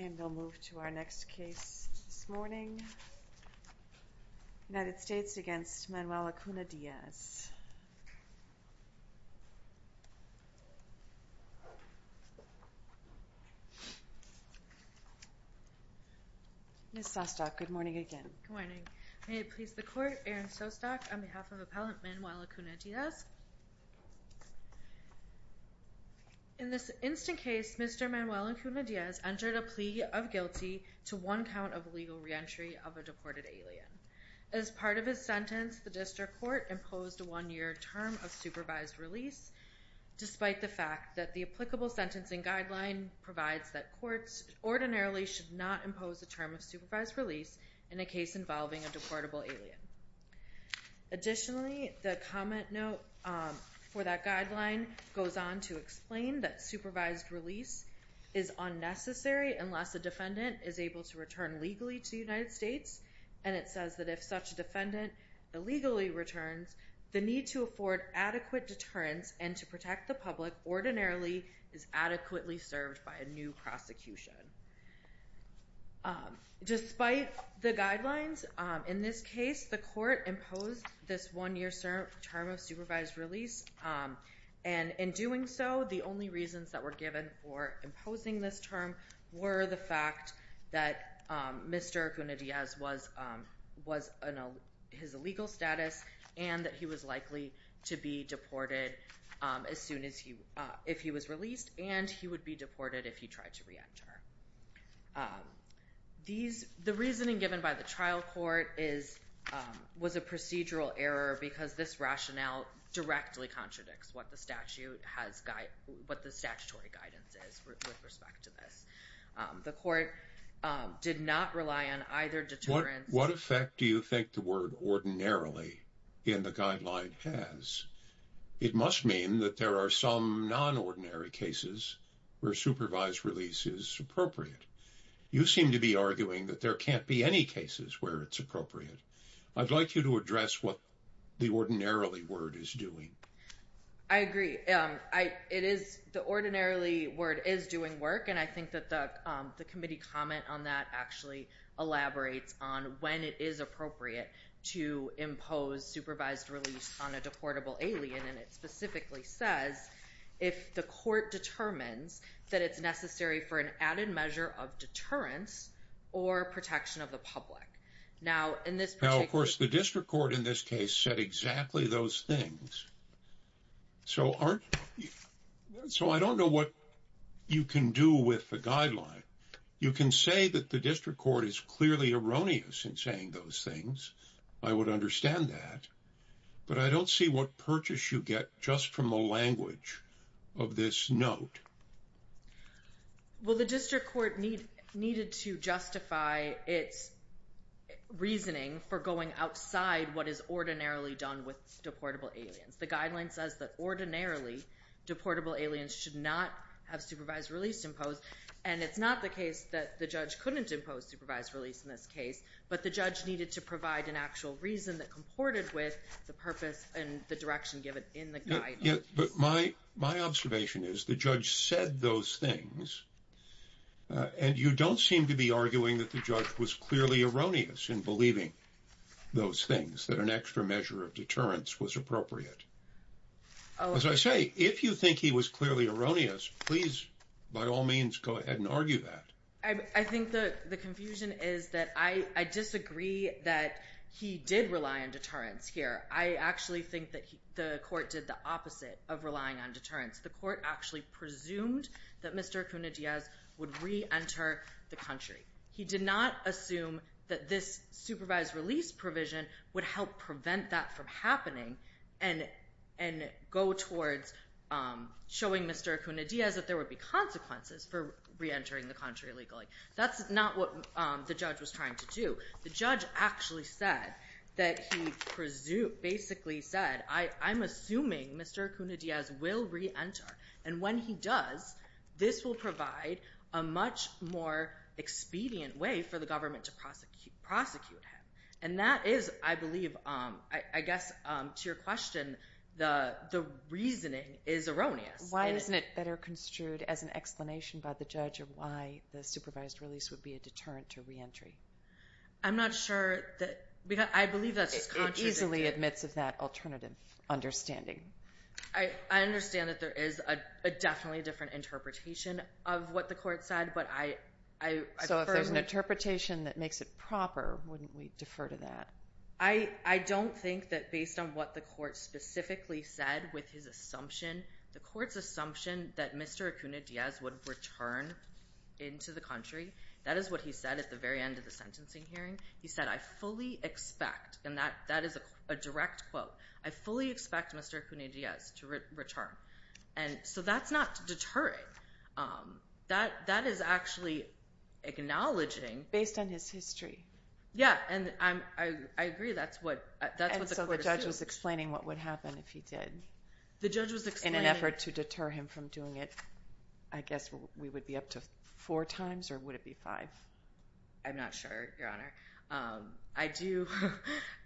And we'll move to our next case this morning. United States v. Manuel Acuna-Diaz. Ms. Sostock, good morning again. Good morning. May it please the Court, Erin Sostock on behalf of Appellant Manuel Acuna-Diaz. In this instant case, Mr. Manuel Acuna-Diaz entered a plea of guilty to one count of legal reentry of a deported alien. As part of his sentence, the District Court imposed a one-year term of supervised release, despite the fact that the applicable sentencing guideline provides that courts ordinarily should not impose a term of supervised release in a case involving a deportable alien. Additionally, the comment note for that guideline goes on to explain that supervised release is unnecessary unless a defendant is able to return legally to the United States, and it says that if such a defendant illegally returns, the need to afford adequate deterrence and to protect the public ordinarily is adequately served by a new prosecution. Despite the guidelines, in this case, the Court imposed this one-year term of supervised release, and in doing so, the only reasons that were given for imposing this term were the fact that Mr. Acuna-Diaz was in his illegal status, and that he was likely to be deported if he was released, and he would be deported if he tried to re-enter. The reasoning given by the trial court was a procedural error because this rationale directly contradicts what the statutory guidance is with respect to this. The Court did not rely on either deterrence to... What effect do you think the word ordinarily in the guideline has? It must mean that there are some non-ordinary cases where supervised release is appropriate. You seem to be arguing that there can't be any cases where it's appropriate. I'd like you to address what the ordinarily word is doing. I agree. The ordinarily word is doing work, and I think that the committee comment on that actually elaborates on when it is appropriate to impose supervised release on a deportable alien, and it specifically says if the court determines that it's necessary for an added measure of deterrence or protection of the public. Now, in this particular... Now, of course, the district court in this case said exactly those things, so I don't know what you can do with the guideline. You can say that the district court is clearly erroneous in saying those things. I would understand that, but I don't see what purchase you get just from the language of this note. Well, the district court needed to justify its reasoning for going outside what is ordinarily done with deportable aliens. The guideline says that ordinarily deportable aliens should not have supervised release imposed, and it's not the case that the judge couldn't impose supervised release in this case, but the judge needed to provide an actual reason that comported with the purpose and the direction given in the guideline. My observation is the judge said those things, and you don't seem to be arguing that the judge was clearly erroneous in believing those things, that an extra measure of deterrence was appropriate. As I say, if you think he was clearly erroneous, please by all means go ahead and argue that. I think the confusion is that I disagree that he did rely on deterrence here. I actually think that the court did the opposite of relying on deterrence. The court actually presumed that Mr. Acuna-Diaz would re-enter the country. He did not assume that this supervised release provision would help prevent that from happening and go towards showing Mr. Acuna-Diaz that there would be consequences for re-entering the country illegally. That's not what the judge was trying to do. The judge actually said that he basically said, I'm assuming Mr. Acuna-Diaz will re-enter, and when he does, this will provide a much more expedient way for the government to prosecute him. And that is, I believe, I guess to your question, the reasoning is erroneous. Why isn't it better construed as an explanation by the judge of why the supervised release would be a deterrent to re-entry? I'm not sure that, because I believe that's contradicted. It easily admits of that alternative understanding. I understand that there is a definitely different interpretation of what the court said, but I... So if there's an interpretation that makes it proper, wouldn't we defer to that? I don't think that based on what the court specifically said with his assumption, the assumption that Mr. Acuna-Diaz would return into the country, that is what he said at the very end of the sentencing hearing. He said, I fully expect, and that is a direct quote, I fully expect Mr. Acuna-Diaz to return. And so that's not deterring. That is actually acknowledging... Based on his history. Yeah, and I agree that's what the court assumed. And so the judge was explaining what would happen if he did. The judge was explaining... In order to deter him from doing it, I guess we would be up to four times, or would it be five? I'm not sure, Your Honor. I do...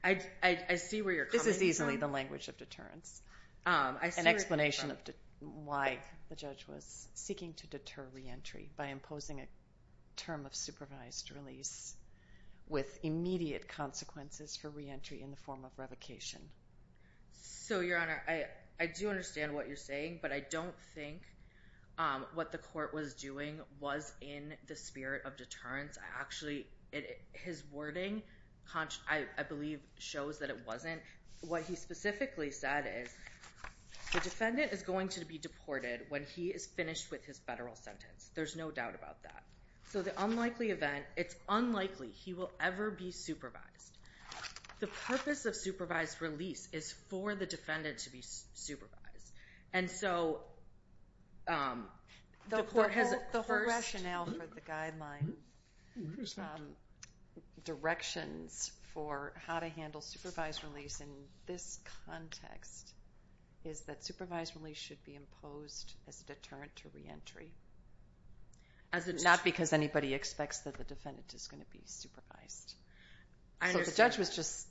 I see where you're coming from. This is easily the language of deterrence, an explanation of why the judge was seeking to deter re-entry by imposing a term of supervised release with immediate consequences for re-entry in the form of revocation. So, Your Honor, I do understand what you're saying, but I don't think what the court was doing was in the spirit of deterrence. Actually, his wording, I believe, shows that it wasn't. What he specifically said is, the defendant is going to be deported when he is finished with his federal sentence. There's no doubt about that. So the unlikely event, it's unlikely he will ever be supervised. The purpose of supervised release is for the defendant to be supervised. And so, the court has... The whole rationale for the guideline directions for how to handle supervised release in this context is that supervised release should be imposed as a deterrent to re-entry. As in, not because anybody expects that the defendant is going to be supervised. I understand. So the judge was just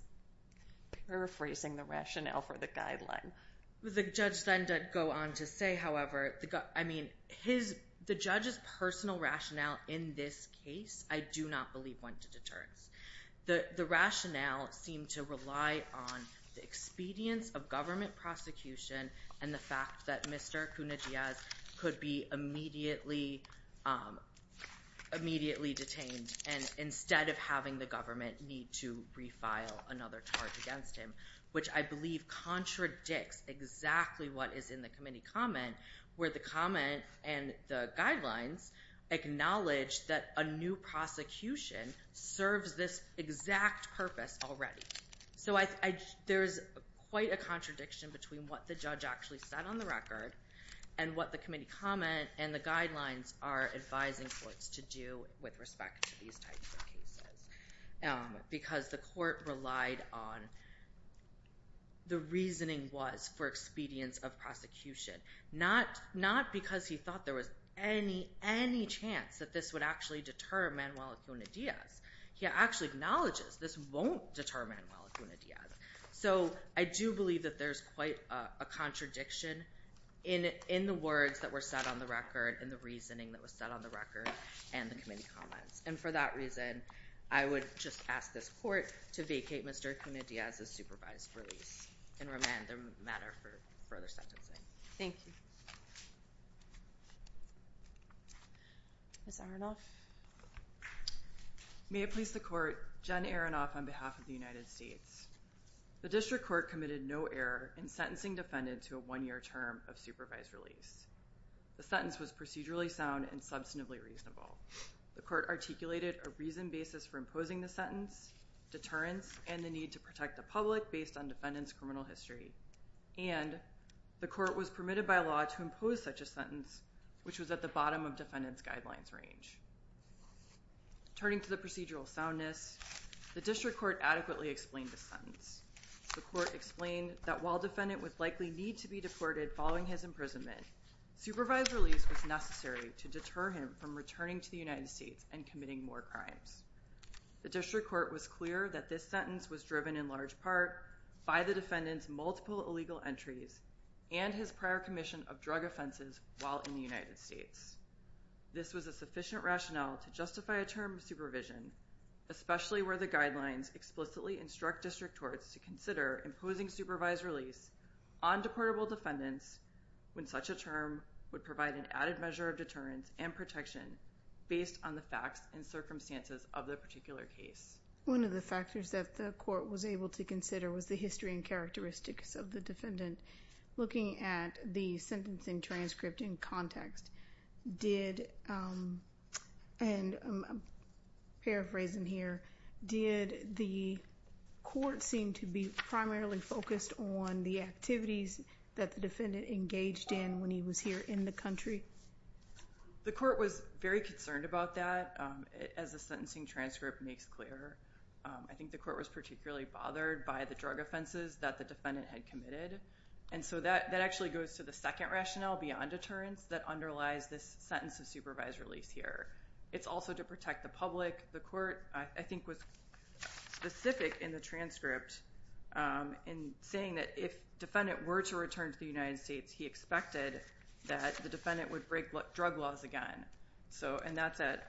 paraphrasing the rationale for the guideline. The judge then did go on to say, however, I mean, the judge's personal rationale in this case, I do not believe went to deterrence. The rationale seemed to rely on the expedience of government prosecution and the fact that Mr. Cunha-Diaz could be immediately detained and instead of having the government need to refile another charge against him, which I believe contradicts exactly what is in the committee comment, where the comment and the guidelines acknowledge that a new prosecution serves this exact purpose already. So there's quite a contradiction between what the judge actually said on the record and what the committee comment and the guidelines are advising courts to do with respect to these types of cases. Because the court relied on the reasoning was for expedience of prosecution. Not because he thought there was any chance that this would actually deter Manuel Cunha-Diaz. He actually acknowledges this won't deter Manuel Cunha-Diaz. So I do believe that there's quite a contradiction in the words that were said on the record and the reasoning that was said on the record and the committee comments. And for that reason, I would just ask this court to vacate Mr. Cunha-Diaz's supervised release and remand the matter for further sentencing. Thank you. Ms. Arnolf? May it please the court, Jen Arnolf on behalf of the United States. The district court committed no error in sentencing defendant to a one-year term of supervised release. The sentence was procedurally sound and substantively reasonable. The court articulated a reasoned basis for imposing the sentence, deterrence, and the need to protect the public based on defendant's criminal history. And the court was permitted by law to impose such a sentence, which was at the bottom of the defendant's guidelines range. Turning to the procedural soundness, the district court adequately explained the sentence. The court explained that while defendant would likely need to be deported following his imprisonment, supervised release was necessary to deter him from returning to the United States and committing more crimes. The district court was clear that this sentence was driven in large part by the defendant's multiple illegal entries and his prior commission of drug offenses while in the United States. This was a sufficient rationale to justify a term of supervision, especially where the guidelines explicitly instruct district courts to consider imposing supervised release on deportable defendants when such a term would provide an added measure of deterrence and protection based on the facts and circumstances of the particular case. One of the factors that the court was able to consider was the history and characteristics of the defendant. Looking at the sentencing transcript in context, did, and I'm paraphrasing here, did the court seem to be primarily focused on the activities that the defendant engaged in when he was here in the country? The court was very concerned about that, as the sentencing transcript makes clear. I think the court was particularly bothered by the drug offenses that the defendant had And so that actually goes to the second rationale beyond deterrence that underlies this sentence of supervised release here. It's also to protect the public. The court, I think, was specific in the transcript in saying that if the defendant were to return to the United States, he expected that the defendant would break drug laws again. And that's at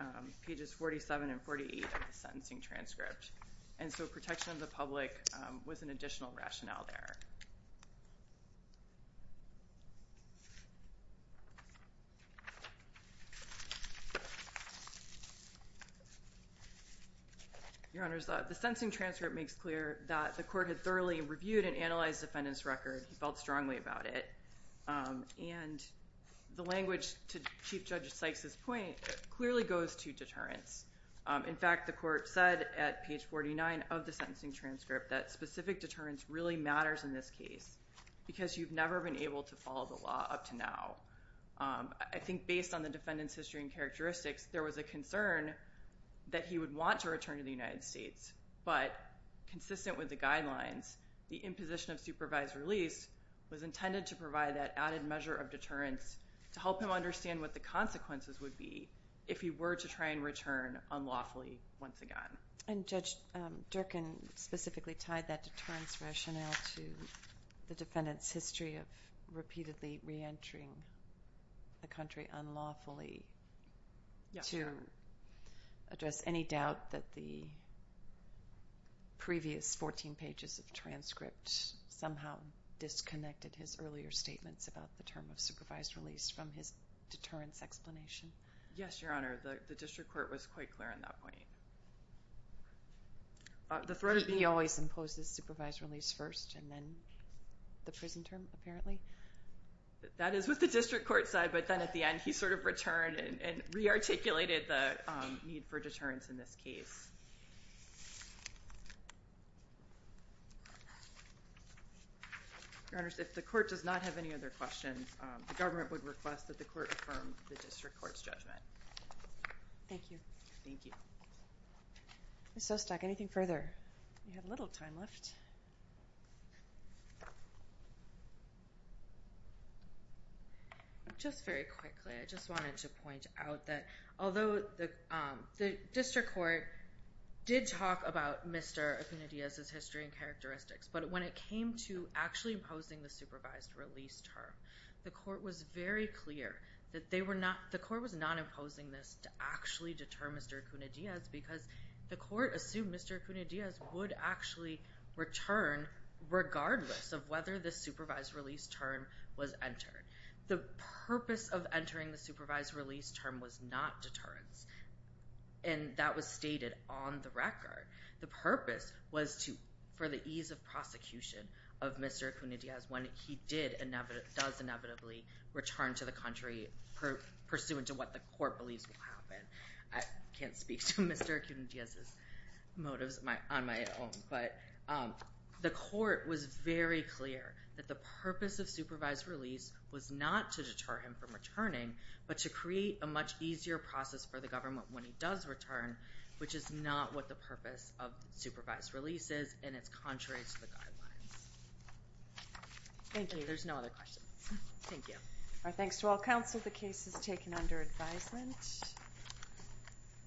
pages 47 and 48 of the sentencing transcript. And so protection of the public was an additional rationale there. Your Honor, the sentencing transcript makes clear that the court had thoroughly reviewed and analyzed the defendant's record. He felt strongly about it. And the language, to Chief Judge Sykes' point, clearly goes to deterrence. In fact, the court said at page 49 of the sentencing transcript that specific deterrence really matters in this case because you've never been able to follow the law up to now. I think based on the defendant's history and characteristics, there was a concern that he would want to return to the United States. But consistent with the guidelines, the imposition of supervised release was intended to provide that added measure of deterrence to help him understand what the consequences would be if he were to try and return unlawfully once again. And Judge Durkan specifically tied that deterrence rationale to the defendant's history of repeatedly reentering the country unlawfully to address any doubt that the previous 14 pages of transcript somehow disconnected his earlier statements about the term of supervised release from his deterrence explanation. Yes, Your Honor. The district court was quite clear on that point. He always imposes supervised release first and then the prison term, apparently? That is what the district court said. But then at the end, he sort of returned and rearticulated the need for deterrence in this case. Your Honor, if the court does not have any other questions, the government would request that the court affirm the district court's judgment. Thank you. Thank you. Ms. Sostak, anything further? We have a little time left. Just very quickly, I just wanted to point out that although the district court did talk about Mr. Acuna-Diaz's history and characteristics, but when it came to actually imposing the supervised release term, the court was very clear that the court was not imposing this to actually deter Mr. Acuna-Diaz because the court assumed Mr. Acuna-Diaz would actually return regardless of whether the supervised release term was entered. The purpose of entering the supervised release term was not deterrence. And that was stated on the record. The purpose was for the ease of prosecution of Mr. Acuna-Diaz when he does inevitably return to the country pursuant to what the court believes will happen. I can't speak to Mr. Acuna-Diaz's motives on my own, but the court was very clear that the purpose of supervised release was not to deter him from returning, but to create a much easier process for the government when he does return, which is not what the purpose of supervised release is, and it's contrary to the guidelines. Thank you. There's no other questions. Thank you. Our thanks to all counsel. The case is taken under advisement.